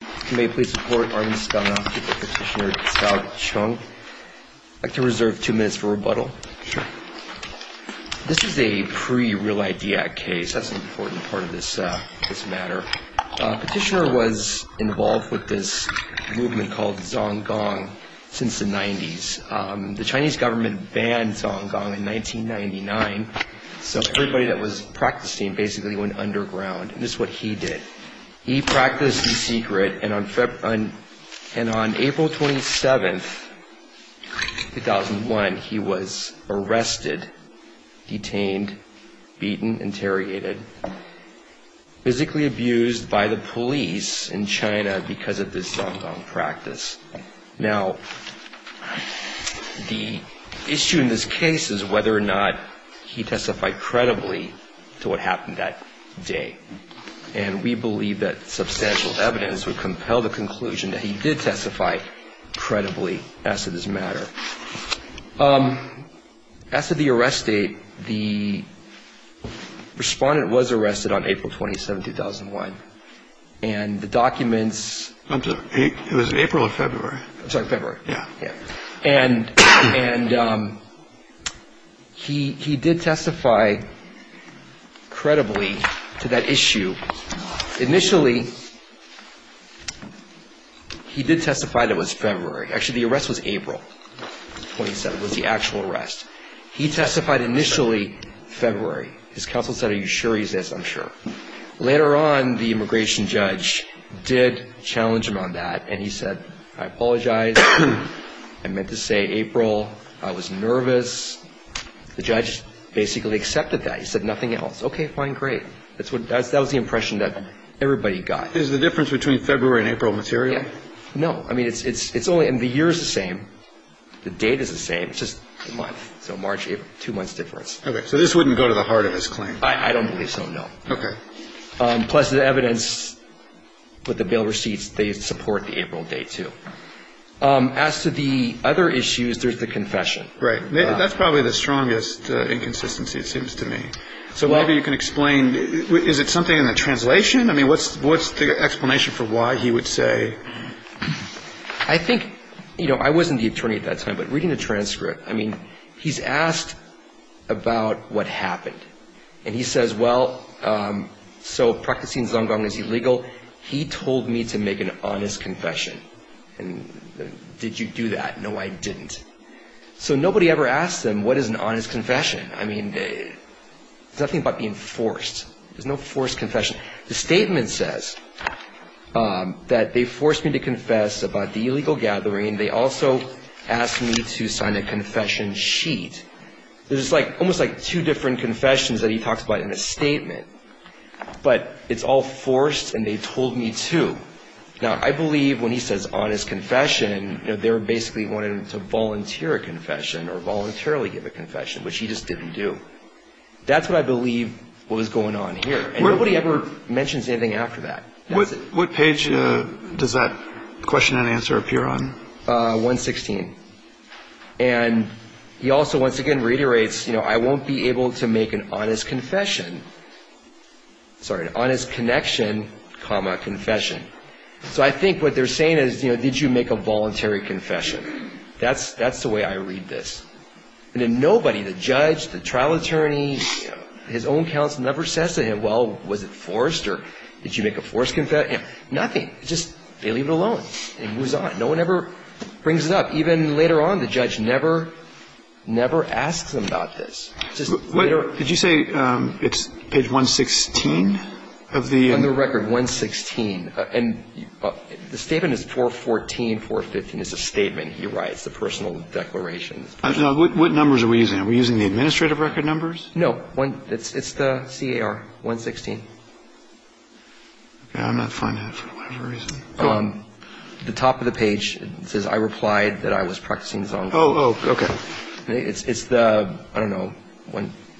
Can we please report Armin Stengel to Petitioner Cao Chung? I'd like to reserve two minutes for rebuttal. Sure. This is a pre-Real Idea case. That's an important part of this matter. Petitioner was involved with this movement called Zonggong since the 90s. The Chinese government banned Zonggong in 1999, so everybody that was practicing basically went underground. And this is what he did. He practiced the secret, and on April 27, 2001, he was arrested, detained, beaten, interrogated, physically abused by the police in China because of this Zonggong practice. Now, the issue in this case is whether or not he testified credibly to what happened that day. And we believe that substantial evidence would compel the conclusion that he did testify credibly as to this matter. As to the arrest date, the respondent was arrested on April 27, 2001, and the documents It was April or February. I'm sorry, February. Yeah. And he did testify credibly to that issue. Initially, he did testify that it was February. Actually, the arrest was April 27, was the actual arrest. He testified initially February. His counsel said, Are you sure he's this? I'm sure. Later on, the immigration judge did challenge him on that, and he said, I apologize. I meant to say April. I was nervous. The judge basically accepted that. He said nothing else. Okay, fine, great. That was the impression that everybody got. Is the difference between February and April material? No. I mean, it's only the year is the same. The date is the same. It's just a month. So March, April, two months difference. Okay. So this wouldn't go to the heart of his claim. I don't believe so, no. Okay. Plus, the evidence with the bail receipts, they support the April date, too. As to the other issues, there's the confession. Right. That's probably the strongest inconsistency, it seems to me. Maybe you can explain. Is it something in the translation? I mean, what's the explanation for why he would say? I think, you know, I wasn't the attorney at that time. But reading the transcript, I mean, he's asked about what happened. And he says, well, so practicing zong gong is illegal. He told me to make an honest confession. And did you do that? No, I didn't. So nobody ever asked him what is an honest confession. I mean, there's nothing about being forced. There's no forced confession. The statement says that they forced me to confess about the illegal gathering. They also asked me to sign a confession sheet. There's almost like two different confessions that he talks about in a statement. But it's all forced, and they told me to. Now, I believe when he says honest confession, they basically wanted him to volunteer a confession or voluntarily give a confession, which he just didn't do. That's what I believe was going on here. And nobody ever mentions anything after that. What page does that question and answer appear on? 116. And he also, once again, reiterates, you know, I won't be able to make an honest confession. Sorry, an honest connection, comma, confession. So I think what they're saying is, you know, did you make a voluntary confession? That's the way I read this. And then nobody, the judge, the trial attorney, his own counsel, never says to him, well, was it forced or did you make a forced confession? Nothing. Just they leave it alone. It moves on. No one ever brings it up. Even later on, the judge never asks him about this. Did you say it's page 116 of the? On the record, 116. And the statement is 414, 415. It's a statement he writes, a personal declaration. What numbers are we using? Are we using the administrative record numbers? No. It's the CAR, 116. Okay. I'm not finding it for whatever reason. The top of the page, it says I replied that I was practicing the song. Oh, okay. It's the, I don't know,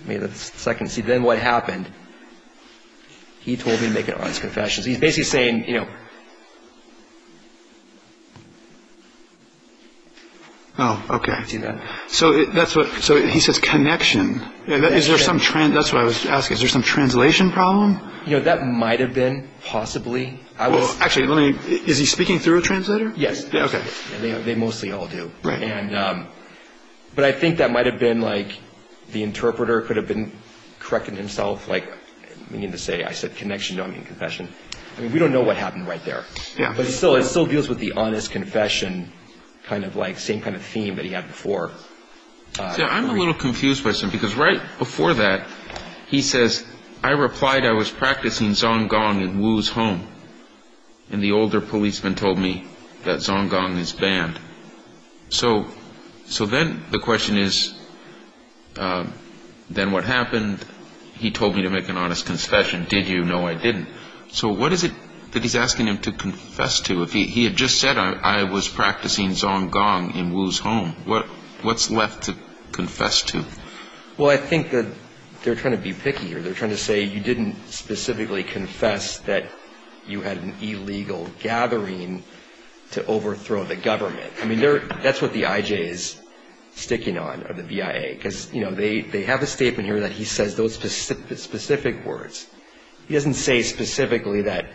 maybe the second. See, then what happened, he told me to make an honest confession. So he's basically saying, you know. Oh, okay. See that? So he says connection. That's what I was asking. Is there some translation problem? You know, that might have been possibly. Well, actually, is he speaking through a translator? Yes. Okay. They mostly all do. Right. But I think that might have been, like, the interpreter could have been correcting himself. Like, I mean, to say, I said connection, you don't mean confession. I mean, we don't know what happened right there. Yeah. But it still deals with the honest confession kind of like, same kind of theme that he had before. See, I'm a little confused by some, because right before that, he says, I replied I was practicing Zong Gong in Wu's home. And the older policeman told me that Zong Gong is banned. So then the question is, then what happened? He told me to make an honest confession. Did you? No, I didn't. So what is it that he's asking him to confess to? He had just said I was practicing Zong Gong in Wu's home. What's left to confess to? Well, I think that they're trying to be picky here. They're trying to say you didn't specifically confess that you had an illegal gathering to overthrow the government. I mean, that's what the IJ is sticking on, or the VIA, because, you know, they have a statement here that he says those specific words. He doesn't say specifically that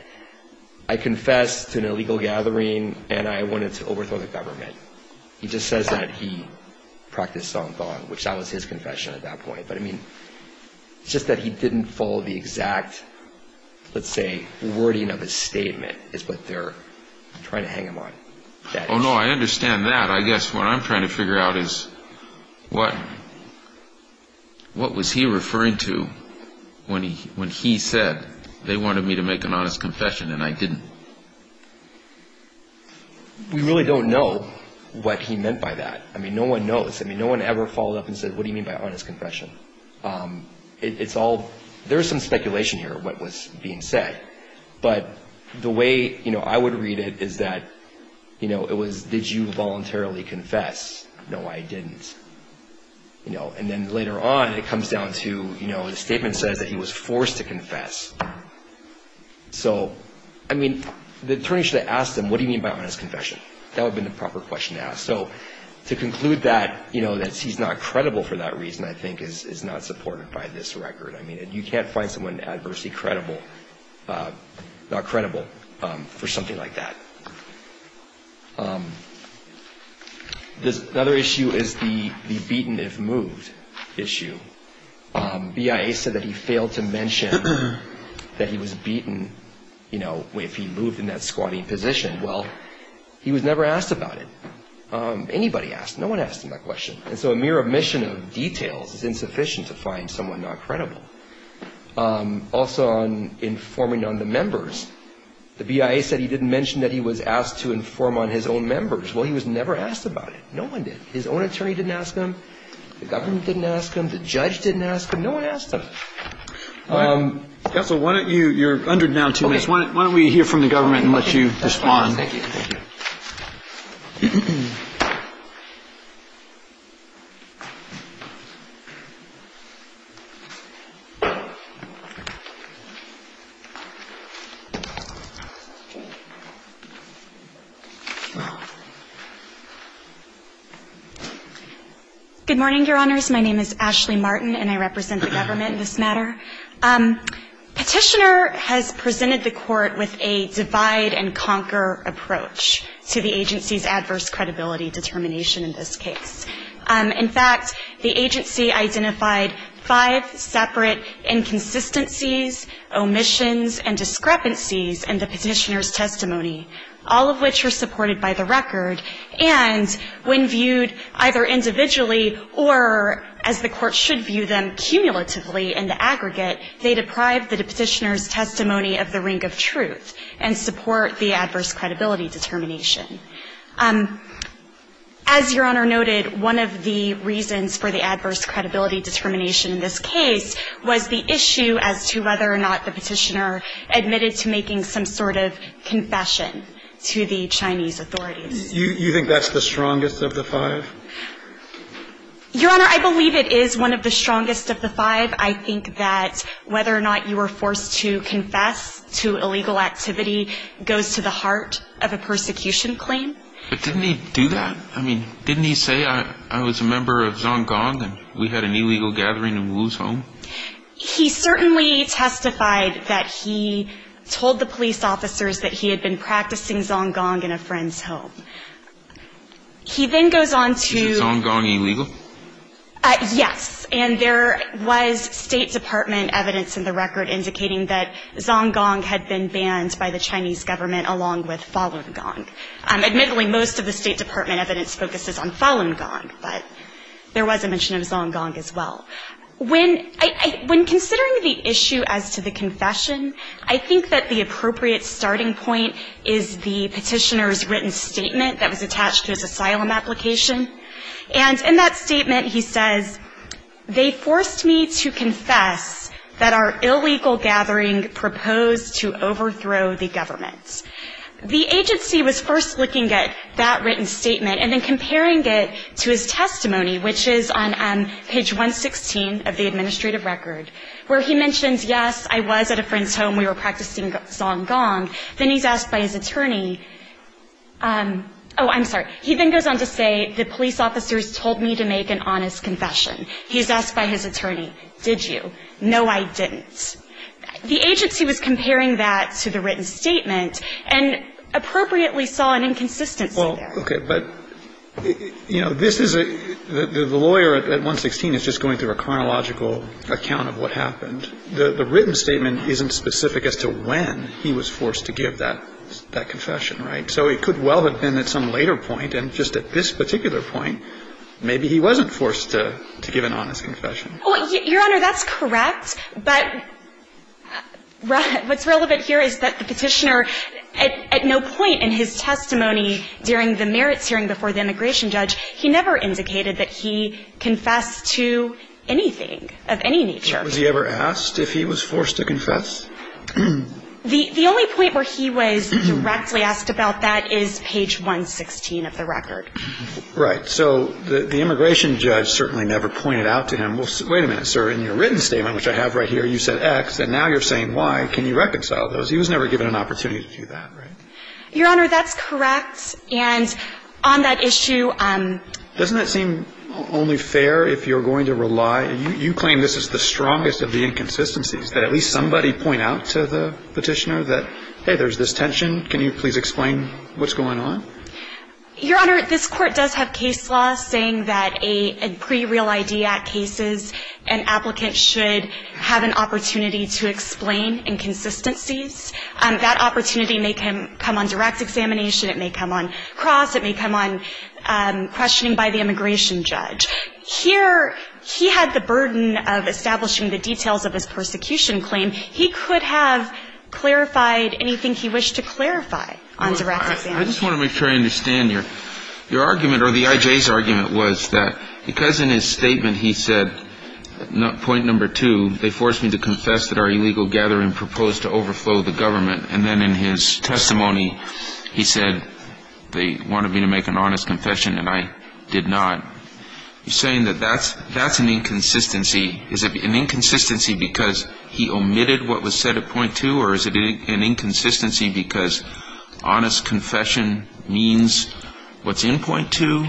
I confessed to an illegal gathering and I wanted to overthrow the government. He just says that he practiced Zong Gong, which that was his confession at that point. But, I mean, it's just that he didn't follow the exact, let's say, wording of his statement is what they're trying to hang him on. Oh, no, I understand that. I guess what I'm trying to figure out is what was he referring to when he said they wanted me to make an honest confession and I didn't? We really don't know what he meant by that. I mean, no one knows. I mean, no one ever followed up and said, what do you mean by honest confession? It's all, there's some speculation here, what was being said. But the way I would read it is that, you know, it was, did you voluntarily confess? No, I didn't. And then later on, it comes down to, you know, the statement says that he was forced to confess. So, I mean, the attorney should have asked him, what do you mean by honest confession? That would have been the proper question to ask. So, to conclude that, you know, that he's not credible for that reason, I think, is not supported by this record. I mean, you can't find someone in adversity credible, not credible for something like that. Another issue is the beaten if moved issue. BIA said that he failed to mention that he was beaten, you know, if he moved in that squatting position. Well, he was never asked about it. Anybody asked. No one asked him that question. And so a mere omission of details is insufficient to find someone not credible. Also on informing on the members. The BIA said he didn't mention that he was asked to inform on his own members. Well, he was never asked about it. No one did. His own attorney didn't ask him. The government didn't ask him. The judge didn't ask him. No one asked him. Counsel, why don't you, you're under now two minutes. Why don't we hear from the government and let you respond. Thank you. Good morning, Your Honors. My name is Ashley Martin, and I represent the government in this matter. Petitioner has presented the court with a divide-and-conquer approach to the agency's adverse credibility determination in this case. In fact, the agency identified five separate inconsistencies, omissions, and discrepancies in the petitioner's testimony, all of which are supported by the record. And when viewed either individually or as the court should view them cumulatively in the aggregate, they deprive the petitioner's testimony of the ring of truth and support the adverse credibility determination. As Your Honor noted, one of the reasons for the adverse credibility determination in this case was the issue as to whether or not the petitioner admitted to making some sort of confession to the Chinese authorities. Do you think that's the strongest of the five? Your Honor, I believe it is one of the strongest of the five. I think that whether or not you were forced to confess to illegal activity goes to the heart of a persecution claim. But didn't he do that? I mean, didn't he say, I was a member of Xiong Gong and we had an illegal gathering in Wu's home? He certainly testified that he told the police officers that he had been practicing Xiong Gong in a friend's home. He then goes on to – Is Xiong Gong illegal? Yes. And there was State Department evidence in the record indicating that Xiong Gong had been banned by the Chinese government along with Falun Gong. Admittedly, most of the State Department evidence focuses on Falun Gong, but there was a mention of Xiong Gong as well. When considering the issue as to the confession, I think that the appropriate starting point is the petitioner's written statement that was attached to his asylum application, and in that statement he says, they forced me to confess that our illegal gathering proposed to overthrow the government. The agency was first looking at that written statement and then comparing it to his testimony, which is on page 116 of the administrative record, where he mentions, yes, I was at a friend's home. We were practicing Xiong Gong. Then he's asked by his attorney – oh, I'm sorry. He then goes on to say, the police officers told me to make an honest confession. He's asked by his attorney, did you? No, I didn't. The agency was comparing that to the written statement and appropriately saw an inconsistency there. Well, okay. But, you know, this is a – the lawyer at 116 is just going through a chronological account of what happened. The written statement isn't specific as to when he was forced to give that confession, right? So it could well have been at some later point, and just at this particular point, maybe he wasn't forced to give an honest confession. Well, Your Honor, that's correct, but what's relevant here is that the petitioner at no point in his testimony during the merits hearing before the immigration judge, he never indicated that he confessed to anything of any nature. Was he ever asked if he was forced to confess? The only point where he was directly asked about that is page 116 of the record. Right. So the immigration judge certainly never pointed out to him, well, wait a minute, sir, in your written statement, which I have right here, you said X, and now you're saying Y. Can you reconcile those? He was never given an opportunity to do that, right? Your Honor, that's correct, and on that issue – Doesn't that seem only fair if you're going to rely – you claim this is the strongest of the inconsistencies, that at least somebody point out to the petitioner that, hey, there's this tension. Can you please explain what's going on? Your Honor, this Court does have case law saying that a pre-Real ID Act cases, an applicant should have an opportunity to explain inconsistencies. That opportunity may come on direct examination. It may come on cross. It may come on questioning by the immigration judge. Here he had the burden of establishing the details of his persecution claim. He could have clarified anything he wished to clarify on direct examination. Your Honor, I just want to make sure I understand. Your argument, or the I.J.'s argument, was that because in his statement he said point number two, they forced me to confess that our illegal gathering proposed to overflow the government, and then in his testimony he said they wanted me to make an honest confession, and I did not. You're saying that that's an inconsistency. Is it an inconsistency because he omitted what was said at point two, or is it an inconsistency because honest confession means what's in point two,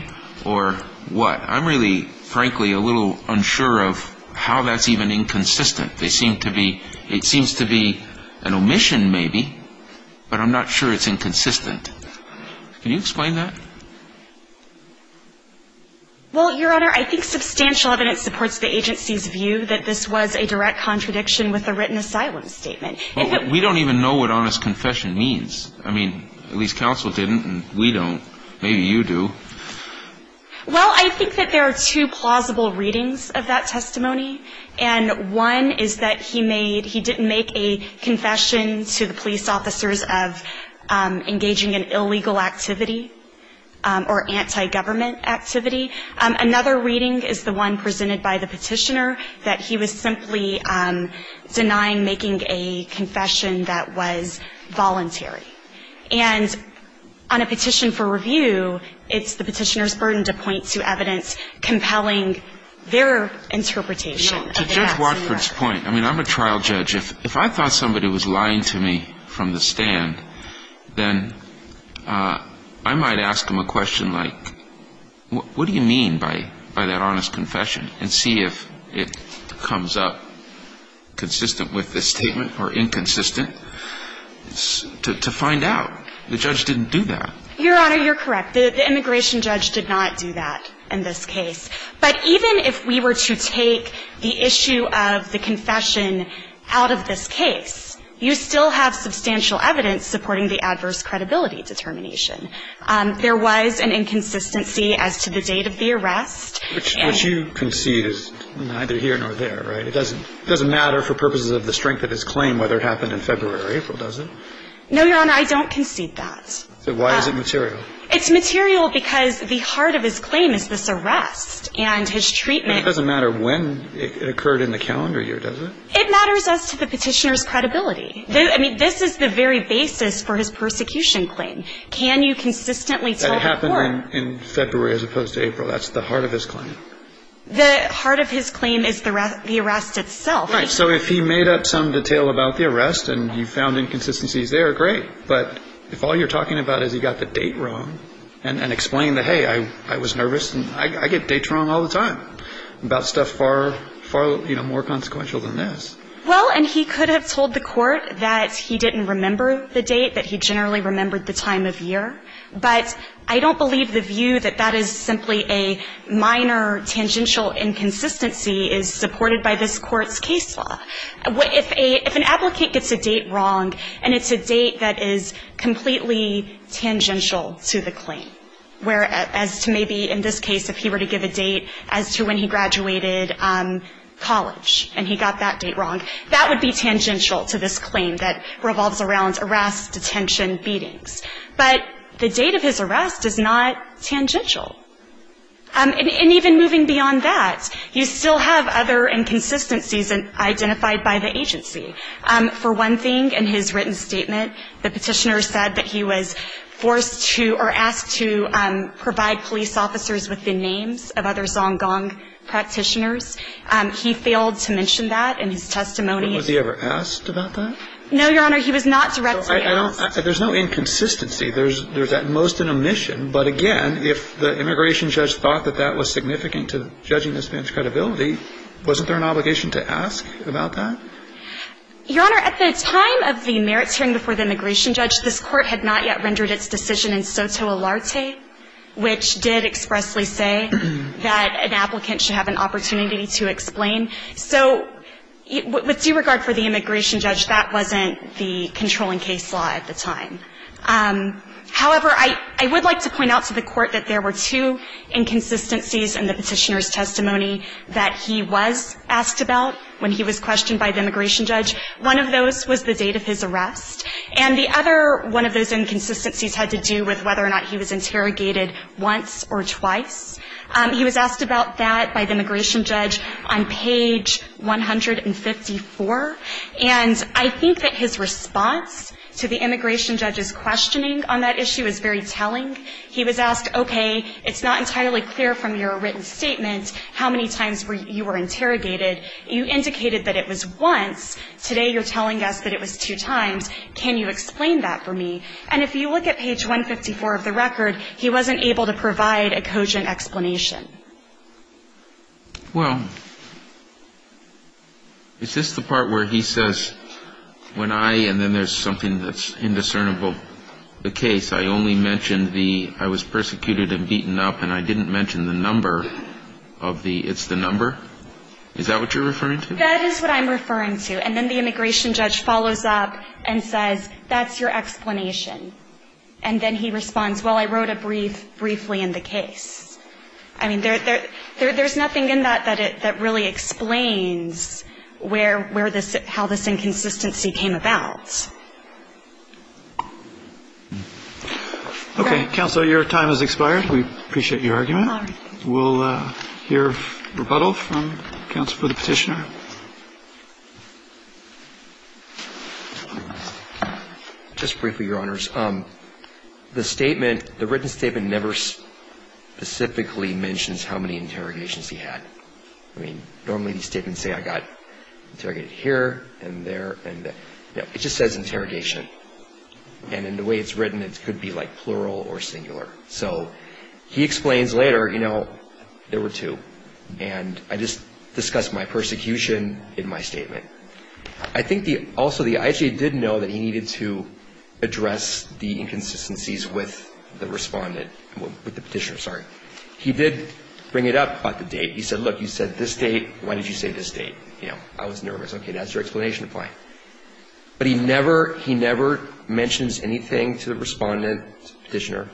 or what? I'm really, frankly, a little unsure of how that's even inconsistent. It seems to be an omission maybe, but I'm not sure it's inconsistent. Can you explain that? Well, Your Honor, I think substantial evidence supports the agency's view that this was a direct contradiction with a written asylum statement. We don't even know what honest confession means. I mean, at least counsel didn't, and we don't. Maybe you do. Well, I think that there are two plausible readings of that testimony, and one is that he made he didn't make a confession to the police officers of engaging in illegal activity or anti-government activity. Another reading is the one presented by the petitioner, that he was simply denying making a confession that was voluntary. And on a petition for review, it's the petitioner's burden to point to evidence compelling their interpretation. To Judge Watford's point, I mean, I'm a trial judge. If I thought somebody was lying to me from the stand, then I might ask them a question like, what do you mean by that honest confession, and see if it comes up consistent with this statement or inconsistent. To find out, the judge didn't do that. Your Honor, you're correct. The immigration judge did not do that in this case. But even if we were to take the issue of the confession out of this case, you still have substantial evidence supporting the adverse credibility determination. There was an inconsistency as to the date of the arrest. Which you concede is neither here nor there, right? It doesn't matter for purposes of the strength of his claim whether it happened in February or April, does it? No, Your Honor, I don't concede that. Why is it material? It's material because the heart of his claim is this arrest and his treatment. It doesn't matter when it occurred in the calendar year, does it? It matters as to the petitioner's credibility. I mean, this is the very basis for his persecution claim. Can you consistently tell the court. That it happened in February as opposed to April. That's the heart of his claim. The heart of his claim is the arrest itself. Right. So if he made up some detail about the arrest and you found inconsistencies there, great. But if all you're talking about is he got the date wrong and explained that, hey, I was nervous, and I get dates wrong all the time about stuff far, far, you know, more consequential than this. Well, and he could have told the court that he didn't remember the date, that he generally remembered the time of year. But I don't believe the view that that is simply a minor tangential inconsistency is supported by this Court's case law. If an applicant gets a date wrong and it's a date that is completely tangential to the claim, whereas to maybe in this case if he were to give a date as to when he graduated college and he got that date wrong, that would be tangential to this claim that revolves around arrest, detention, beatings. But the date of his arrest is not tangential. And even moving beyond that, you still have other inconsistencies identified by the agency. For one thing, in his written statement, the Petitioner said that he was forced to or asked to provide police officers with the names of other Zong Gong practitioners. He failed to mention that in his testimony. Was he ever asked about that? No, Your Honor. He was not directly asked. I don't – there's no inconsistency. There's at most an omission. But again, if the immigration judge thought that that was significant to judging this man's credibility, wasn't there an obligation to ask about that? Your Honor, at the time of the merits hearing before the immigration judge, this Court had not yet rendered its decision in soto alarte, which did expressly say that an applicant should have an opportunity to explain. So with due regard for the immigration judge, that wasn't the controlling case law at the time. However, I would like to point out to the Court that there were two inconsistencies in the Petitioner's testimony that he was asked about when he was questioned by the immigration judge. One of those was the date of his arrest. And the other one of those inconsistencies had to do with whether or not he was interrogated once or twice. He was asked about that by the immigration judge on page 154. And I think that his response to the immigration judge's questioning on that issue is very telling. He was asked, okay, it's not entirely clear from your written statement how many times you were interrogated. You indicated that it was once. Today you're telling us that it was two times. Can you explain that for me? And if you look at page 154 of the record, he wasn't able to provide a cogent explanation. Well, is this the part where he says, when I, and then there's something that's indiscernible, the case, I only mentioned the, I was persecuted and beaten up and I didn't mention the number of the, it's the number? Is that what you're referring to? That is what I'm referring to. And then the immigration judge follows up and says, that's your explanation. And then he responds, well, I wrote a brief briefly in the case. I mean, there's nothing in that that really explains where, where this, how this inconsistency came about. Okay. Counsel, your time has expired. We appreciate your argument. All right. We'll hear rebuttal from counsel for the Petitioner. Just briefly, Your Honors. The statement, the written statement never specifically mentions how many interrogations he had. I mean, normally these statements say I got interrogated here and there and there. No, it just says interrogation. And in the way it's written, it could be like plural or singular. So he explains later, you know, there were two. And I just discussed my persecution in my statement. I think the, also the IHA did know that he needed to address the inconsistencies with the Respondent, with the Petitioner, sorry. He did bring it up about the date. He said, look, you said this date. Why did you say this date? You know, I was nervous. Okay, that's your explanation. Fine. But he never, he never mentions anything to the Respondent, Petitioner,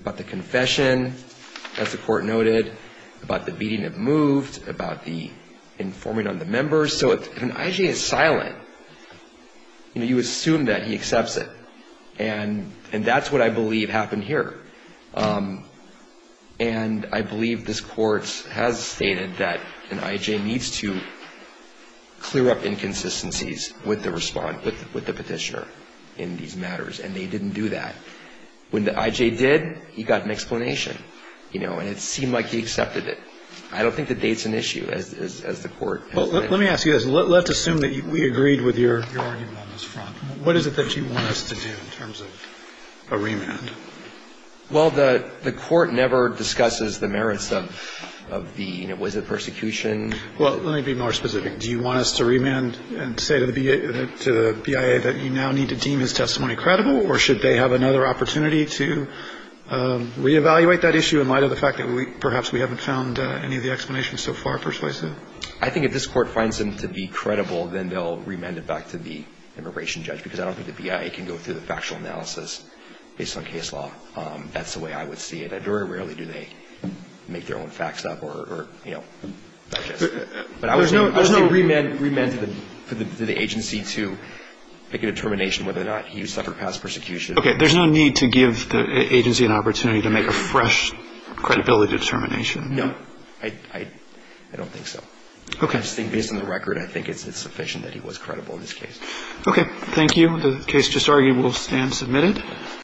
about the confession, as the Court noted, about the beating of MOVED, about the informing on the members. So if an IJ is silent, you know, you assume that he accepts it. And that's what I believe happened here. And I believe this Court has stated that an IJ needs to clear up inconsistencies with the Respondent, with the Petitioner in these matters. And they didn't do that. When the IJ did, he got an explanation, you know, and it seemed like he accepted it. I don't think the date's an issue, as the Court. Well, let me ask you this. Let's assume that we agreed with your argument on this front. What is it that you want us to do in terms of a remand? Well, the Court never discusses the merits of the, you know, was it persecution? Well, let me be more specific. Do you want us to remand and say to the BIA that you now need to deem his testimony credible, or should they have another opportunity to reevaluate that issue in light of the fact that perhaps we haven't found any of the explanations so far persuasive? I think if this Court finds him to be credible, then they'll remand it back to the immigration judge, because I don't think the BIA can go through the factual analysis based on case law. That's the way I would see it. And very rarely do they make their own facts up or, you know. But I would say remand to the agency to make a determination whether or not he suffered past persecution. Okay. There's no need to give the agency an opportunity to make a fresh credibility determination. No. I don't think so. Okay. I just think based on the record, I think it's sufficient that he was credible in this case. Okay. Thank you. The case just argued will stand submitted.